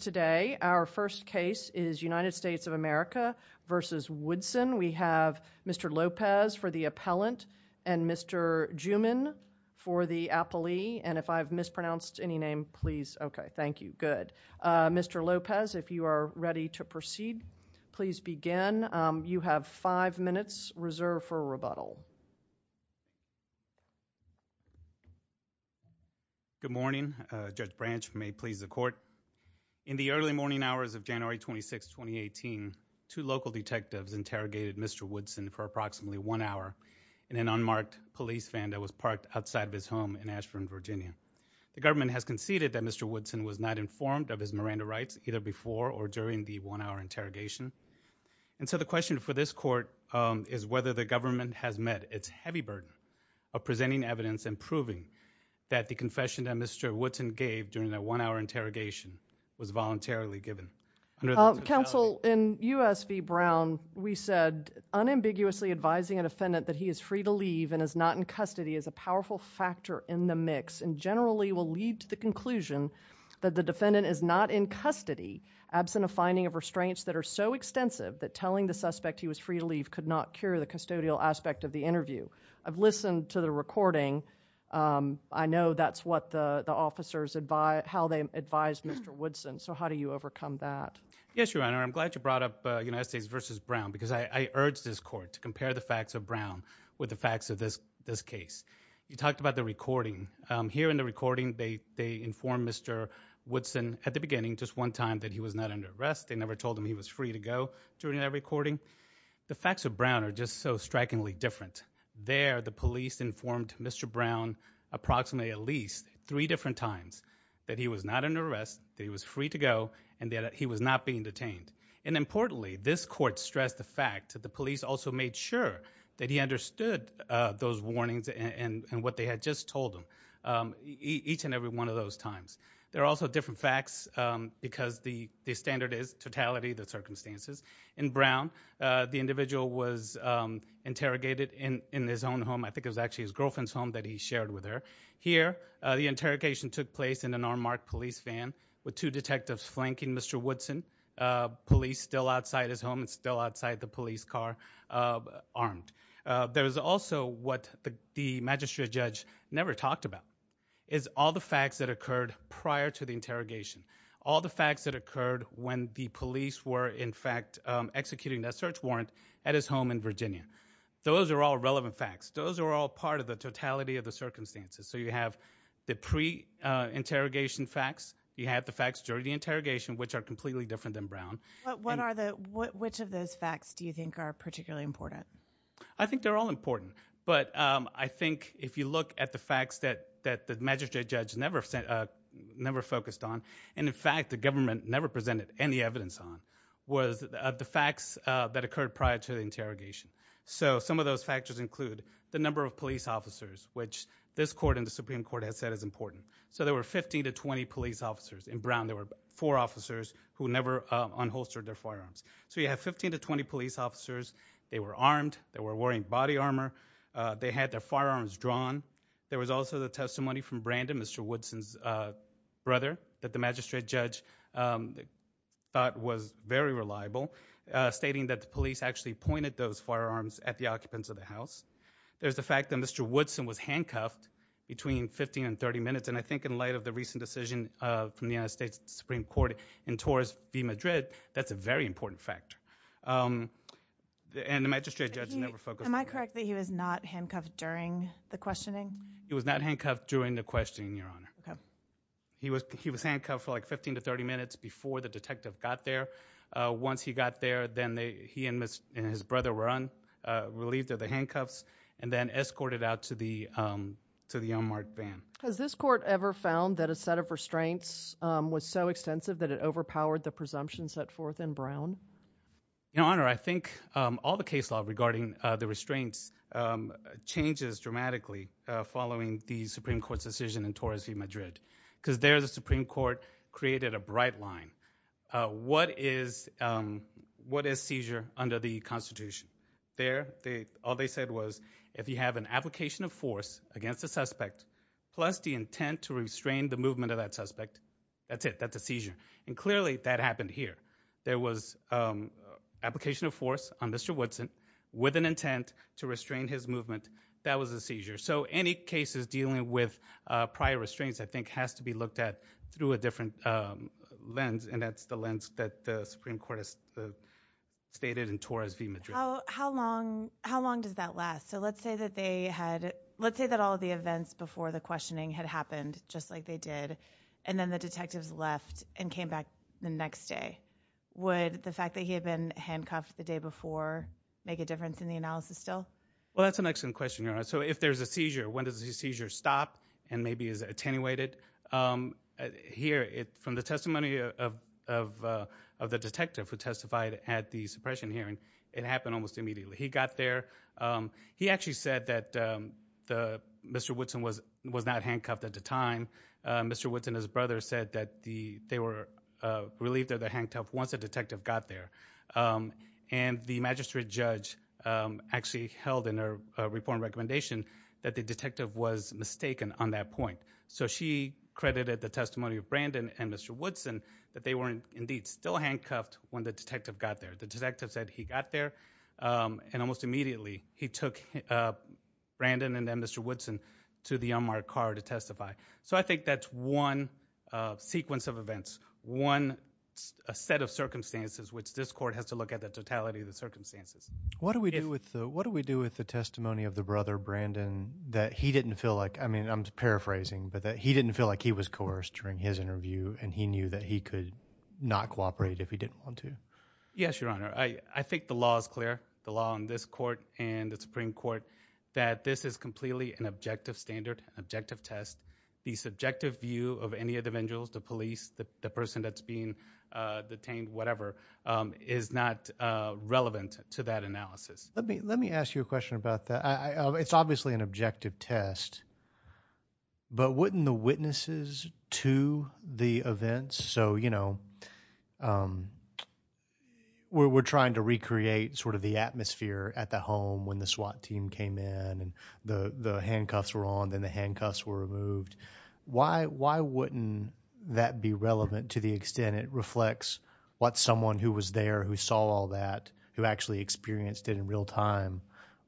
Today our first case is United States of America v. Woodson. We have Mr. Lopez for the appellant and Mr. Juman for the appellee. Mr. Lopez, if you are ready to proceed, please begin. You have five minutes reserved for rebuttal. Good morning. Judge Branch, may it please the court. In the early morning hours of January 26, 2018, two local detectives interrogated Mr. Woodson for approximately one hour in an unmarked police van that was parked outside of his home in Ashburn, Virginia. The government has conceded that Mr. Woodson was not informed of his Miranda rights either before or during the one-hour interrogation. And so the question for this court is whether the government has met its heavy burden of presenting evidence and proving that the confession that Mr. Woodson gave during that one-hour interrogation was voluntarily given. Counsel, in U.S. v. Brown, we said unambiguously advising a defendant that he is free to leave and is not in custody is a powerful factor in the mix and generally will lead to the conclusion that the absence of finding of restraints that are so extensive that telling the suspect he was free to leave could not cure the custodial aspect of the interview. I've listened to the recording. I know that's how the officers advised Mr. Woodson. So how do you overcome that? Yes, Your Honor. I'm glad you brought up United States v. Brown because I urged this court to compare the facts of Brown with the facts of this case. You talked about the recording. Here in the beginning, just one time that he was not under arrest. They never told him he was free to go during that recording. The facts of Brown are just so strikingly different. There, the police informed Mr. Brown approximately at least three different times that he was not under arrest, that he was free to go, and that he was not being detained. And importantly, this court stressed the fact that the police also made sure that he understood those warnings and what they had just told him each and every one of those times. There are also different facts because the standard is totality, the circumstances. In Brown, the individual was interrogated in his own home. I think it was actually his girlfriend's home that he shared with her. Here, the interrogation took place in an unmarked police van with two detectives flanking Mr. Woodson, police still never talked about, is all the facts that occurred prior to the interrogation. All the facts that occurred when the police were, in fact, executing that search warrant at his home in Virginia. Those are all relevant facts. Those are all part of the totality of the circumstances. So you have the pre-interrogation facts, you have the facts during the interrogation, which are completely different than Brown. Which of those facts do you think are particularly important? I think they're all the facts that the magistrate judge never focused on, and in fact, the government never presented any evidence on, was the facts that occurred prior to the interrogation. So some of those factors include the number of police officers, which this court and the Supreme Court has said is important. So there were 15 to 20 police officers in Brown. There were four officers who never unholstered their firearms. So you have 15 to 20 police officers, they were armed, they were wearing body armor, they had their firearms drawn. There was also the testimony from Brandon, Mr. Woodson's brother, that the magistrate judge thought was very reliable, stating that the police actually pointed those firearms at the occupants of the house. There's the fact that Mr. Woodson was handcuffed between 15 and 30 minutes, and I think in light of the recent decision from the United States Supreme Court in Torres v. Madrid, that's a very important factor. And the magistrate judge never focused on that. Am I correct that he was not handcuffed during the questioning? He was not handcuffed during the questioning, Your Honor. Okay. He was handcuffed for like 15 to 30 minutes before the detective got there. Once he got there, then he and his brother were unrelieved of the handcuffs, and then escorted out to the unmarked van. Has this court ever found that a set of restraints was so extensive that it overpowered the presumption set forth in Brown? Your Honor, I think all the case law regarding the restraints changes dramatically following the Supreme Court's decision in Torres v. Madrid, because there the Supreme Court created a bright line. What is seizure under the Constitution? There, all they said was, if you have an application of force against a suspect, plus the intent to restrain the movement of that suspect, that's it. That's a seizure. And clearly that happened here. There was application of force on Mr. Woodson with an intent to restrain his movement. That was a seizure. So any cases dealing with prior restraints I think has to be looked at through a different lens, and that's the lens that the Supreme Court has stated in Torres v. Madrid. How long does that last? So let's say that they had, let's say that all the events before the questioning had happened just like they did, and then the detectives left and came back the next day. Would the fact that he had been handcuffed the day before make a difference in the analysis still? Well, that's an excellent question, Your Honor. So if there's a seizure, when does the seizure stop and maybe is it attenuated? Here, from the testimony of the detective who testified at the suppression hearing, it happened almost immediately. He got there. He actually said that Mr. Woodson was not handcuffed at the time. Mr. Woodson and his brother said that they were relieved of their handcuffs once the detective got there. And the magistrate judge actually held in her report and recommendation that the detective was mistaken on that point. So she credited the testimony of Brandon and Mr. Woodson that they were indeed still handcuffed when the detective got there. The detective said he got there and almost immediately he took Brandon and then Mr. Woodson to the unmarked car to testify. So I think that's one sequence of events, one set of circumstances which this court has to look at the totality of the circumstances. What do we do with the testimony of the brother, Brandon, that he didn't feel like, I mean, I'm paraphrasing, but that he didn't feel like he was coerced during his interview and he knew that he could not cooperate if he didn't want to? Yes, Your Honor. I think the law is clear, the law in this court and the Supreme Court, that this is completely an objective standard, an objective test. The subjective view of any of the individuals, the police, the person that's being detained, whatever, is not relevant to that analysis. Let me ask you a question about that. It's obviously an objective test, but wouldn't the witnesses to the events, so, you know, we're trying to recreate sort of the atmosphere at the home when the SWAT team came in and the handcuffs were on, then the handcuffs were removed. Why wouldn't that be relevant to the extent it reflects what someone who was there, who saw all that, who actually experienced it in real time,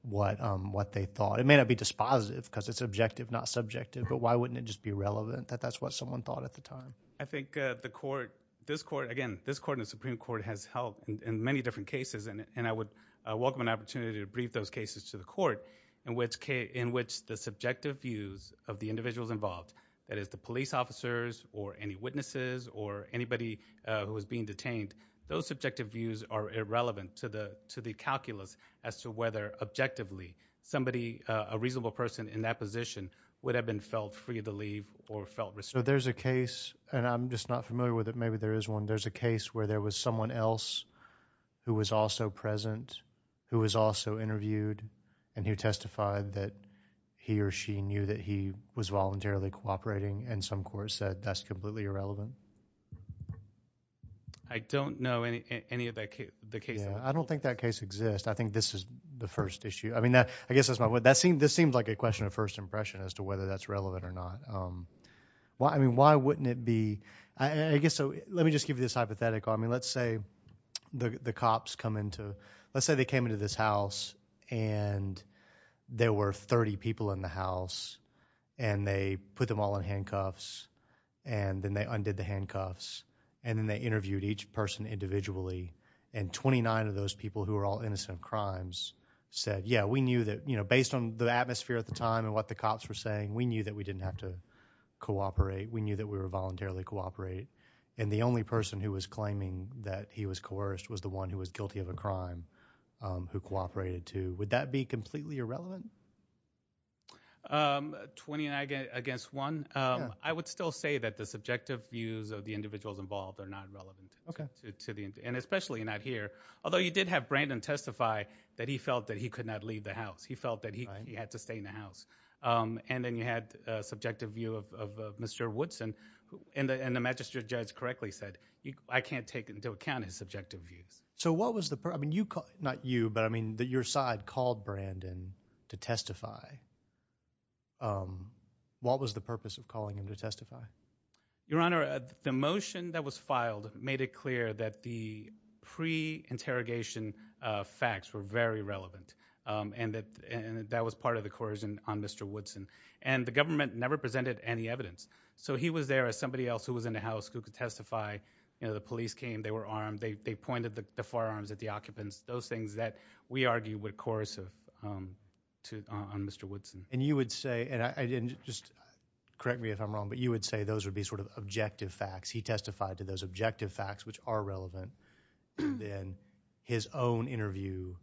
what they thought? It may not be dispositive because it's objective, not subjective, but why wouldn't it just be relevant that that's what someone thought at the time? I think the court, this court, again, this court and the Supreme Court has helped in many different cases and I would welcome an opportunity to brief those cases to the court in which the subjective views of the individuals involved, that is the police officers or any witnesses or anybody who was being detained, those subjective views are irrelevant to the calculus as to whether objectively somebody, a reasonable person in that position would have been felt free to leave or felt responsible. There's a case, and I'm just not familiar with it, maybe there is one, there's a case where there was someone else who was also present, who was also interviewed and who testified that he or she knew that he was voluntarily cooperating and some court said that's completely irrelevant. I don't know any of that case. I don't think that case exists. I think this is the first issue. I mean, I guess that's my, this seems like a question of first impression as to whether that's relevant or not. I mean, why wouldn't it be, I guess, so let me just give you this hypothetical. I mean, let's say the cops come into, let's say they came into this house and there were 30 people in the house and they put them all in handcuffs and then they undid the handcuffs and then they interviewed each person individually and 29 of those people who were all innocent of crimes said, yeah, we knew that, you know, based on the atmosphere at the time and what the cops were saying, we knew that we didn't have to cooperate. We knew that we were voluntarily cooperating and the only person who was claiming that he was coerced was the one who was guilty of a crime who cooperated too. Would that be completely irrelevant? Um, 29 against one. Um, I would still say that the subjective views of the individuals involved are not relevant to the, and especially not here. Although you did have Brandon testify that he felt that he could not leave the house. He felt that he had to stay in the house. And then you had a subjective view of, of Mr. Woodson and the, and the magistrate judge correctly said, I can't take into account his subjective views. So what was the purpose? I mean, you call, not you, but I mean that your side called Brandon to testify. Um, what was the purpose of calling him to testify? Your Honor, the motion that was filed made it clear that the pre interrogation, uh, facts were very relevant. Um, and that, and that was part of the coercion on Mr. Woodson and the government never presented any evidence. So he was there as somebody else who was in the house who could testify. You know, the police came, they were armed, they, they pointed the firearms at the occupants, those things that we argue would coerce, um, to, uh, on Mr. Woodson. And you would say, and I didn't just correct me if I'm wrong, but you would say those would be sort of objective facts. He testified to those objective facts, which are relevant. Then his own interview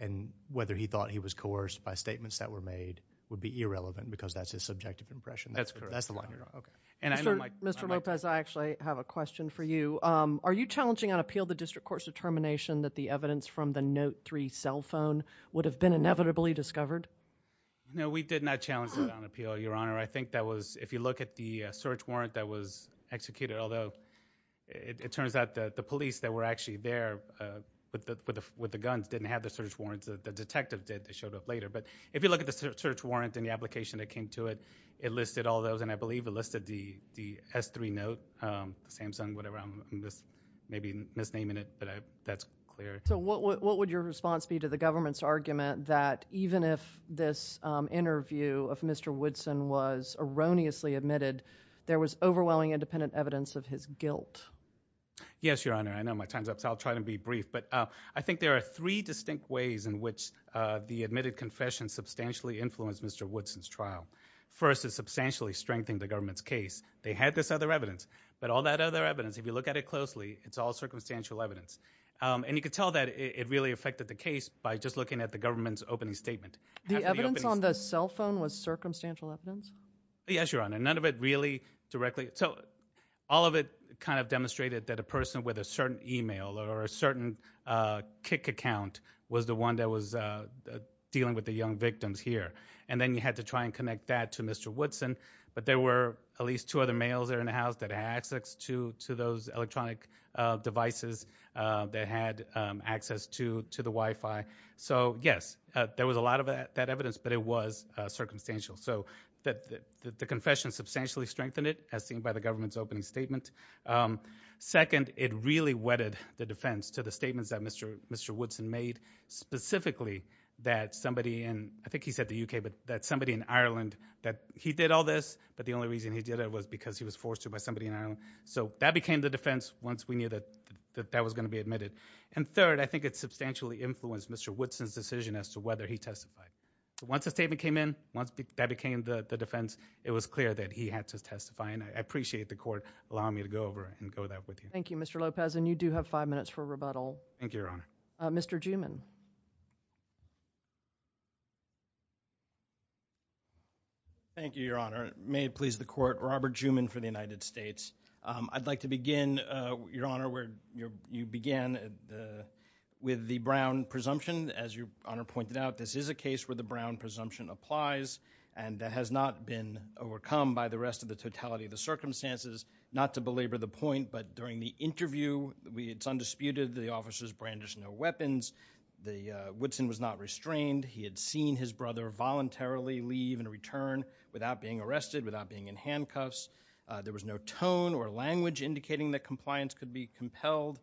and whether he thought he was coerced by statements that were made would be irrelevant because that's his subjective impression. That's correct. That's the line you're on. Okay. And I know Mike, Mr. Lopez, I actually have a question for you. Um, are you challenging on appeal, the district court's determination that the evidence from the note three cell phone would have been inevitably discovered? No, we did not challenge it on appeal, Your Honor. I think that was, if you look at the search warrant that was executed, although it turns out that the police that were actually there, uh, with the, with the, with the guns didn't have the search warrants that the detective did, they showed up later. But if you look at the search warrant and the application that came to it, it listed all those. And I believe it listed the, the S three note, um, Samsung, whatever, um, this maybe misnaming it, but I, that's clear. So what, what, what would your response be to the government's argument that even if this interview of Mr. Woodson was erroneously admitted, there was overwhelming independent evidence of his guilt? Yes, Your Honor. I know my time's up, so I'll try to be brief, but, uh, I think there are three distinct ways in which, uh, the admitted confession substantially influenced Mr. Woodson's trial. First, it substantially strengthened the government's case. They had this other evidence, but all that other evidence, if you look at it closely, it's all circumstantial evidence. Um, and you could tell that it really affected the case by just looking at the government's opening statement. The evidence on the cell phone was circumstantial evidence? Yes, Your Honor. None of it really directly. So all of it kind of demonstrated that a person with a certain email or a certain, uh, kick account was the one that was, uh, dealing with the young victims here. And then you had to try and connect that to Mr. Woodson, but there were at least two other males there in the house that had access to, to those electronic, uh, devices, uh, that had, um, access to, to the Wi-Fi. So yes, uh, there was a lot of that, that evidence, but it was, uh, circumstantial. So that the, the confession substantially strengthened it as seen by the government's opening statement. Um, second, it really whetted the defense to the statements that Mr. Woodson made specifically that somebody in, I think he said the UK, but that somebody in Ireland that he did all this, but the only reason he did it was because he was forced to by somebody in Ireland. So that became the defense once we knew that, that that was going to be admitted. And third, I think it substantially influenced Mr. Woodson's decision as to whether he testified. So once the statement came in, once that became the defense, it was clear that he had to testify. And I appreciate the court allowing me to go over and go that with you. Thank you, Mr. Lopez. And you do have five minutes for rebuttal. Thank you, Your Honor. Robert Juman. Thank you, Your Honor. May it please the court. Robert Juman for the United States. Um, I'd like to begin, uh, Your Honor, where you're, you began, uh, with the Brown presumption. As Your Honor pointed out, this is a case where the Brown presumption applies and that has not been overcome by the rest of the totality of the circumstances. Not to belabor the point, but during the interview, we, it's undisputed that the officers brandished no weapons. The, uh, Woodson was not restrained. He had seen his brother voluntarily leave and return without being arrested, without being in handcuffs. Uh, there was no tone or language indicating that compliance could be compelled.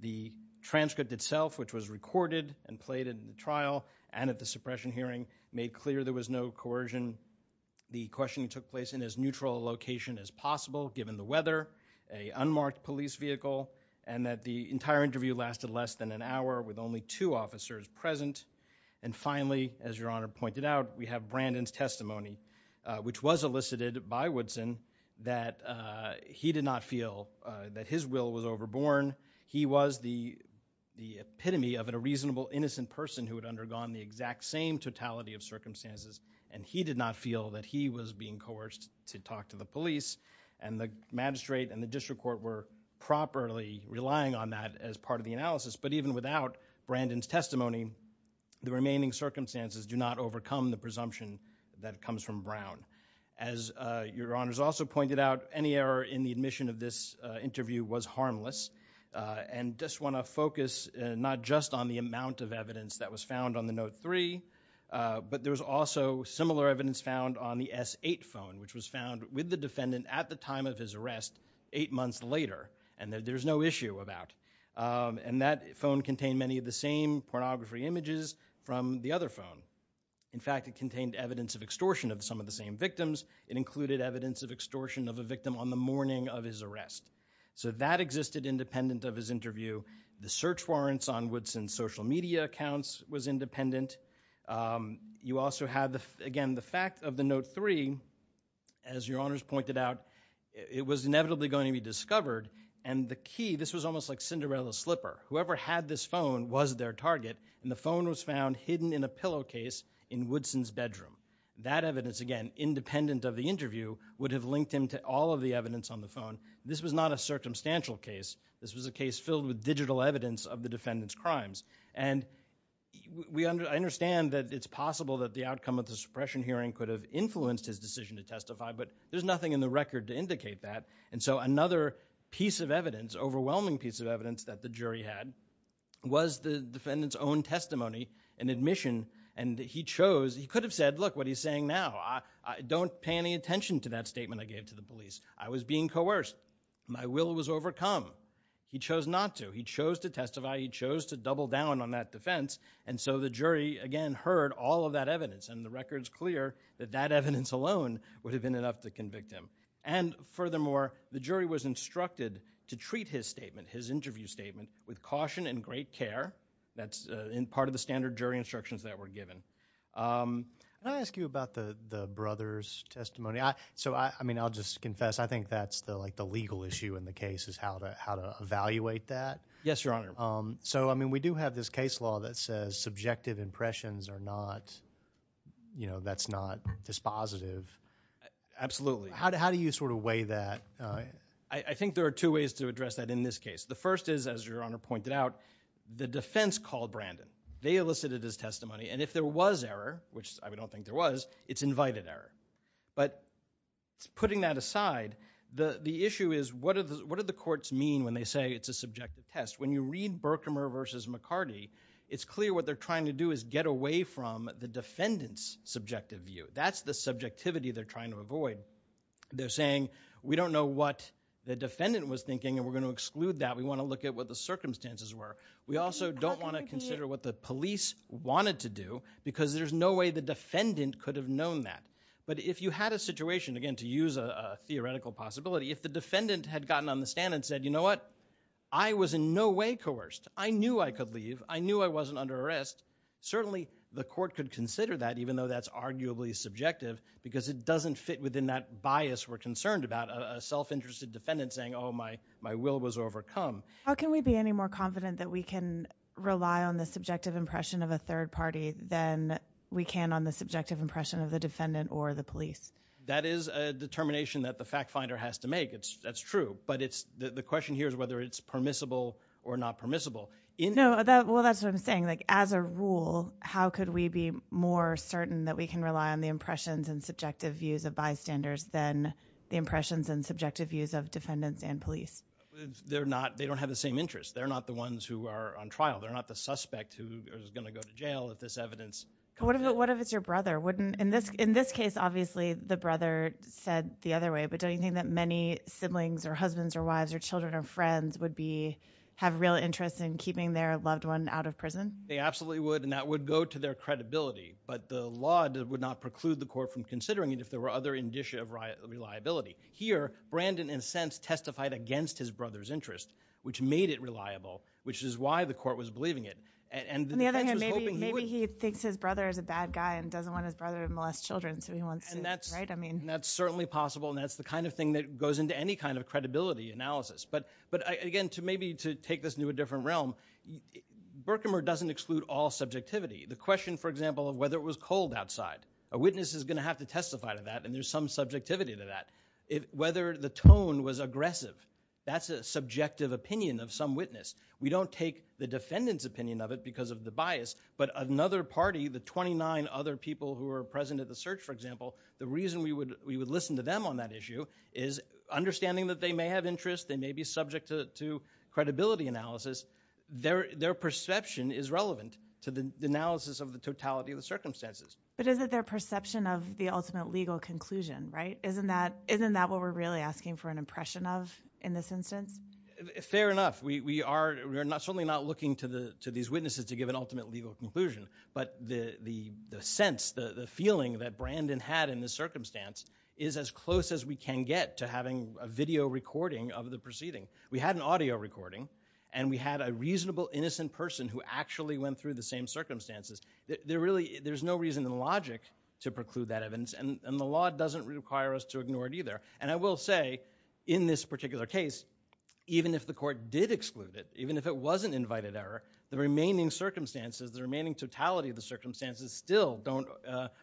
The transcript itself, which was recorded and played in the trial and at the suppression hearing made clear there was no coercion. The questioning took place in as neutral a location as possible given the weather, a unmarked police vehicle, and that the entire interview lasted less than an hour with only two officers present. And finally, as Your Honor pointed out, we have Brandon's testimony, uh, which was elicited by Woodson that, uh, he did not feel, uh, that his will was overborne. He was the, the epitome of a reasonable, innocent person who had undergone the exact same totality of circumstances and he did not feel that he was being coerced to talk to the police. And the magistrate and the district court were properly relying on that as part of the analysis. But even without Brandon's testimony, the remaining circumstances do not overcome the presumption that comes from Brown. As, uh, Your Honor's also pointed out, any error in the admission of this, uh, interview was harmless. Uh, and just want to focus, uh, not just on the amount of evidence that was found on the Note 3, uh, but there was also similar evidence found on the S8 phone, which was found with the defendant at the time of his arrest, eight months later, and that there's no issue about. Um, and that phone contained many of the same pornography images from the other phone. In fact, it contained evidence of extortion of some of the same victims. It included evidence of extortion of a victim on the morning of his arrest. So that existed independent of his interview. The search warrants on Woodson's social media accounts was independent. Um, you also had the, again, the fact of the Note 3, as Your Honor's pointed out, it was inevitably going to be discovered. And the key, this was almost like Cinderella's slipper. Whoever had this phone was their target. And the phone was found hidden in a pillowcase in Woodson's bedroom. That evidence, again, independent of the interview, would have linked him to all of the evidence on the phone. This was not a circumstantial case. This was a case filled with digital evidence of the defendant's crimes. And we, I understand that it's possible that the outcome of the suppression hearing could have influenced his decision to testify, but there's nothing in the record to indicate that. And so another piece of evidence, overwhelming piece of evidence, that the jury had was the defendant's own testimony and admission. And he chose, he could have said, look, what he's saying now. I don't pay any attention to that statement I gave to the police. I was being coerced. My will was overcome. He chose not to. He chose to testify. He chose to double down on that defense. And so the jury, again, heard all of that evidence. And the record's clear that that evidence alone would have been enough to convict him. And furthermore, the jury was instructed to treat his statement, his interview statement, with caution and great care. That's part of the standard jury instructions that were given. Can I ask you about the brother's testimony? So, I mean, I'll just confess, I think that's the legal issue in the case is how to evaluate that. Yes, Your Honor. So, I mean, we do have this case law that says subjective impressions are not, you know, that's not dispositive. Absolutely. How do you sort of weigh that? I think there are two ways to address that in this case. The first is, as Your Honor pointed out, the defense called Brandon. They elicited his testimony. And if there was error, which I don't think there was, it's invited error. But putting that aside, the issue is what do the courts mean when they say it's a subjective test? When you read Berkmer v. McCarty, it's clear what they're trying to do is get away from the defendant's subjective view. That's the subjectivity they're trying to avoid. They're saying, we don't know what the defendant was thinking, and we're going to exclude that. We want to look at what the circumstances were. We also don't want to consider what the police wanted to do, because there's no way the defendant could have known that. But if you had a situation, again, to use a theoretical possibility, if the defendant had gotten on the stand and said, you know what, I was in no way coerced. I knew I could leave. I knew I wasn't under arrest. Certainly the court could consider that, even though that's arguably subjective, because it doesn't fit within that bias we're concerned about, a self-interested defendant saying, oh, my will was overcome. How can we be any more confident that we can rely on the subjective impression of a third party than we can on the subjective impression of the defendant or the police? That is a determination that the fact finder has to make. That's true. But the question here is whether it's permissible or not permissible. No, well, that's what I'm saying. As a rule, how could we be more certain that we can rely on the impressions and subjective views of bystanders than the impressions and subjective views of defendants and police? They're not. They don't have the same interests. They're not the ones who are on trial. They're not the suspect who is going to go to jail if this evidence comes out. What if it's your brother? In this case, obviously, the brother said the other way. But don't you think that many siblings or husbands or wives or children or friends would have real interest in keeping their loved one out of prison? They absolutely would. And that would go to their credibility. But the law would not preclude the court from considering it if there were other indicia of reliability. Here, Brandon, in a sense, testified against his brother's interest, which made it reliable, which is why the court was believing it. On the other hand, maybe he thinks his brother is a bad guy and doesn't want his brother to molest children, so he wants to, right? That's certainly possible, and that's the kind of thing that goes into any kind of credibility analysis. But again, maybe to take this into a different realm, Burkhamer doesn't exclude all subjectivity. The question, for example, of whether it was cold outside, a witness is going to have to testify to that, and there's some subjectivity to that. Whether the tone was aggressive, that's a subjective opinion of some witness. We don't take the defendant's opinion of it because of the bias, but another party, the 29 other people who are present at the search, for example, the reason we would listen to them on that issue is understanding that they may have interest, they may be subject to credibility analysis, their perception is relevant to the analysis of the totality of the circumstances. But is it their perception of the ultimate legal conclusion, right? Isn't that what we're really asking for an impression of in this instance? Fair enough. We are certainly not looking to these witnesses to give an ultimate legal conclusion, but the sense, the feeling that Brandon had in this circumstance is as close as we can get to having a video recording of the proceeding. We had an audio recording, and we had a reasonable, innocent person who actually went through the same circumstances. There's no reason in logic to preclude that evidence, and the law doesn't require us to ignore it either. And I will say, in this particular case, even if the court did exclude it, even if it wasn't invited error, the remaining circumstances, the remaining totality of the circumstances still don't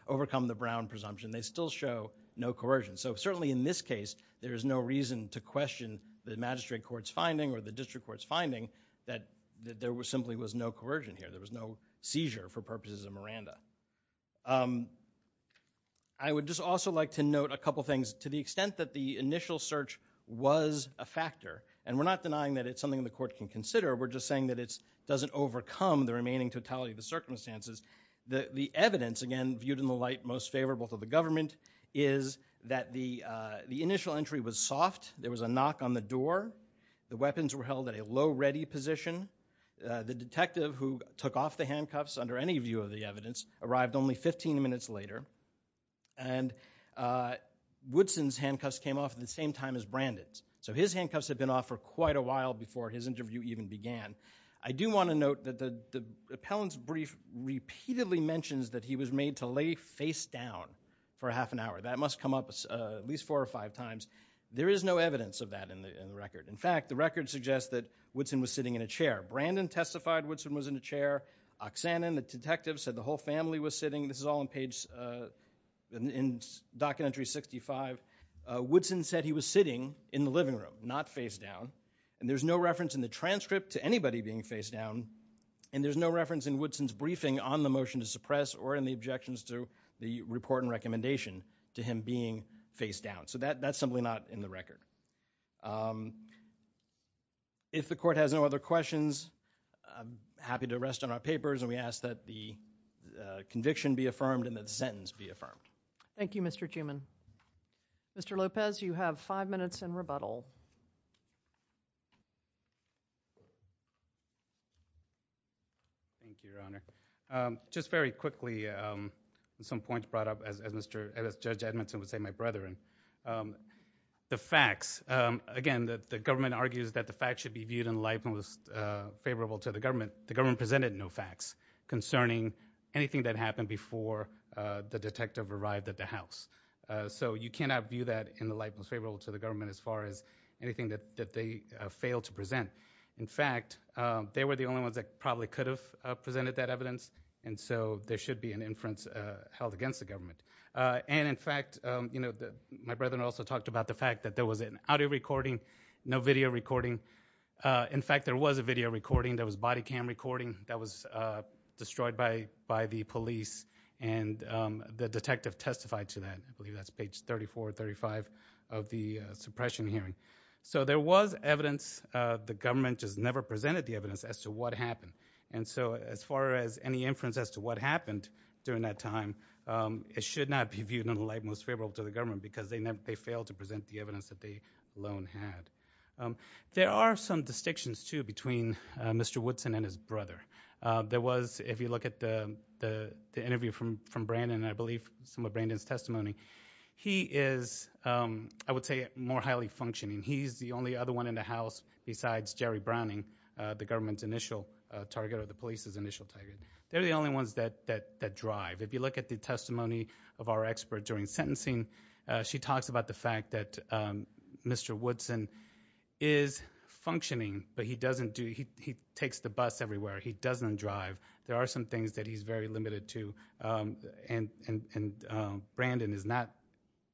overcome the Brown presumption. They still show no coercion. So certainly in this case, there is no reason to question the magistrate court's finding or the district court's finding that there simply was no coercion here, there was no coercion for the purposes of Miranda. I would just also like to note a couple things. To the extent that the initial search was a factor, and we're not denying that it's something the court can consider, we're just saying that it doesn't overcome the remaining totality of the circumstances, the evidence, again, viewed in the light most favorable to the government, is that the initial entry was soft, there was a knock on the door, the weapons were held at a low ready position, the detective who took off the handcuffs under any view of the evidence arrived only 15 minutes later, and Woodson's handcuffs came off at the same time as Brandon's. So his handcuffs had been off for quite a while before his interview even began. I do want to note that the appellant's brief repeatedly mentions that he was made to lay face down for half an hour. That must come up at least four or five times. There is no evidence of that in the record. In fact, the record suggests that Woodson was sitting in a chair. Brandon testified Woodson was in a chair. Oksanen, the detective, said the whole family was sitting. This is all in page, in Documentary 65. Woodson said he was sitting in the living room, not face down, and there's no reference in the transcript to anybody being face down, and there's no reference in Woodson's briefing on the motion to suppress or in the objections to the report and recommendation to him being face down. So that's simply not in the record. If the court has no other questions, I'm happy to rest on our papers, and we ask that the conviction be affirmed and that the sentence be affirmed. Thank you, Mr. Chuman. Mr. Lopez, you have five minutes in rebuttal. Thank you, Your Honor. Just very quickly, some points brought up, as Judge Edmonton would say, my brethren. The facts, again, the government argues that the facts should be viewed in the light most favorable to the government. The government presented no facts concerning anything that happened before the detective arrived at the house. So you cannot view that in the light most favorable to the government as far as anything that they failed to present. In fact, they were the only ones that probably could have presented that evidence, and so there should be an inference held against the government. And in fact, my brethren also talked about the fact that there was an audio recording, no video recording. In fact, there was a video recording that was body cam recording that was destroyed by the police, and the detective testified to that. I believe that's page 34 or 35 of the suppression hearing. So there was evidence. The government just never presented the evidence as to what happened. And so as far as any inference as to what happened during that time, it should not be viewed in the light most favorable to the government because they failed to present the evidence that they alone had. There are some distinctions, too, between Mr. Woodson and his brother. There was, if you look at the interview from Brandon, I believe some of Brandon's testimony, he is, I would say, more highly functioning. He's the only other one in the house besides Jerry Browning, the government's initial target or the police's initial target. They're the only ones that drive. If you look at the testimony of our expert during sentencing, she talks about the fact that Mr. Woodson is functioning, but he doesn't do, he takes the bus everywhere. He doesn't drive. There are some things that he's very limited to, and Brandon is not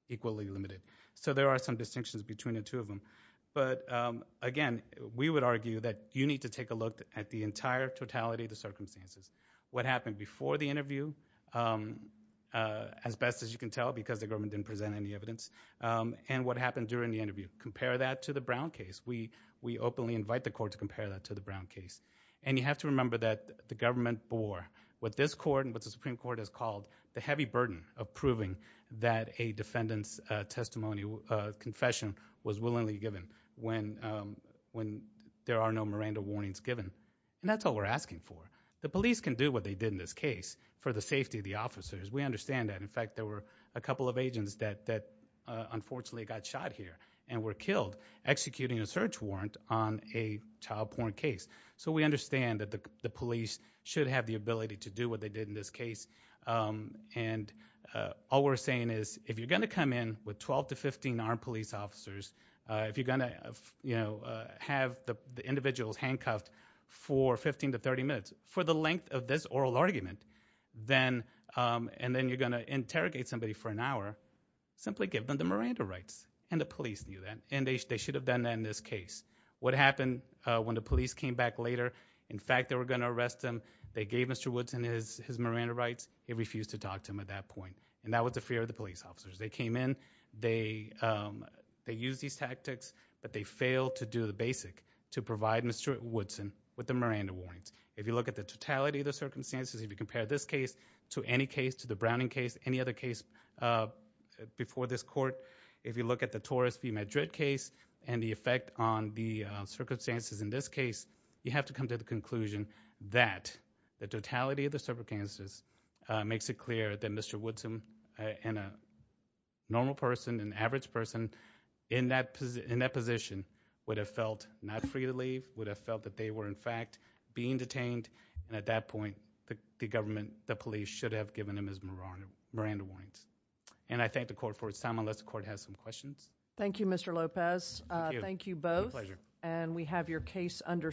equally limited. So there are some distinctions between the two of them. But again, we would argue that you need to take a look at the entire totality of the circumstances. What happened before the interview, as best as you can tell because the government didn't present any evidence, and what happened during the interview. Compare that to the Brown case. We openly invite the court to compare that to the Brown case. And you have to remember that the government bore what this court and what the Supreme Court has called the heavy burden of proving that a defendant's testimony or confession was willingly given when there are no Miranda warnings given. And that's all we're asking for. The police can do what they did in this case for the safety of the officers. We understand that. In fact, there were a couple of agents that unfortunately got shot here and were killed executing a search warrant on a child porn case. So we understand that the police should have the ability to do what they did in this case. And all we're saying is if you're going to come in with 12 to 15 armed police officers, if you're going to have the individuals handcuffed for 15 to 30 minutes for the length of this oral argument, and then you're going to interrogate somebody for an hour, simply give them the Miranda rights. And the police knew that. And they should have done that in this case. What happened when the police came back later? In fact, they were going to arrest him. They gave Mr. Woodson his Miranda rights. He refused to talk to him at that point. And that was the fear of the police officers. They came in, they used these tactics, but they failed to do the basic to provide Mr. Woodson with the Miranda warnings. If you look at the totality of the circumstances, if you compare this case to any case, to the Browning case, any other case before this court, if you look at the Torres v. Madrid case and the effect on the circumstances in this case, you have to come to the conclusion that the totality of the circumstances makes it clear that Mr. Woodson and a normal person, an average person in that position would have felt not free to leave, would have felt that they were in fact being detained. And at that point, the government, the police should have given him his Miranda Miranda warrants. And I thank the court for its time, unless the court has some questions. Thank you, Mr. Lopez. Thank you both. And we have your case under submission.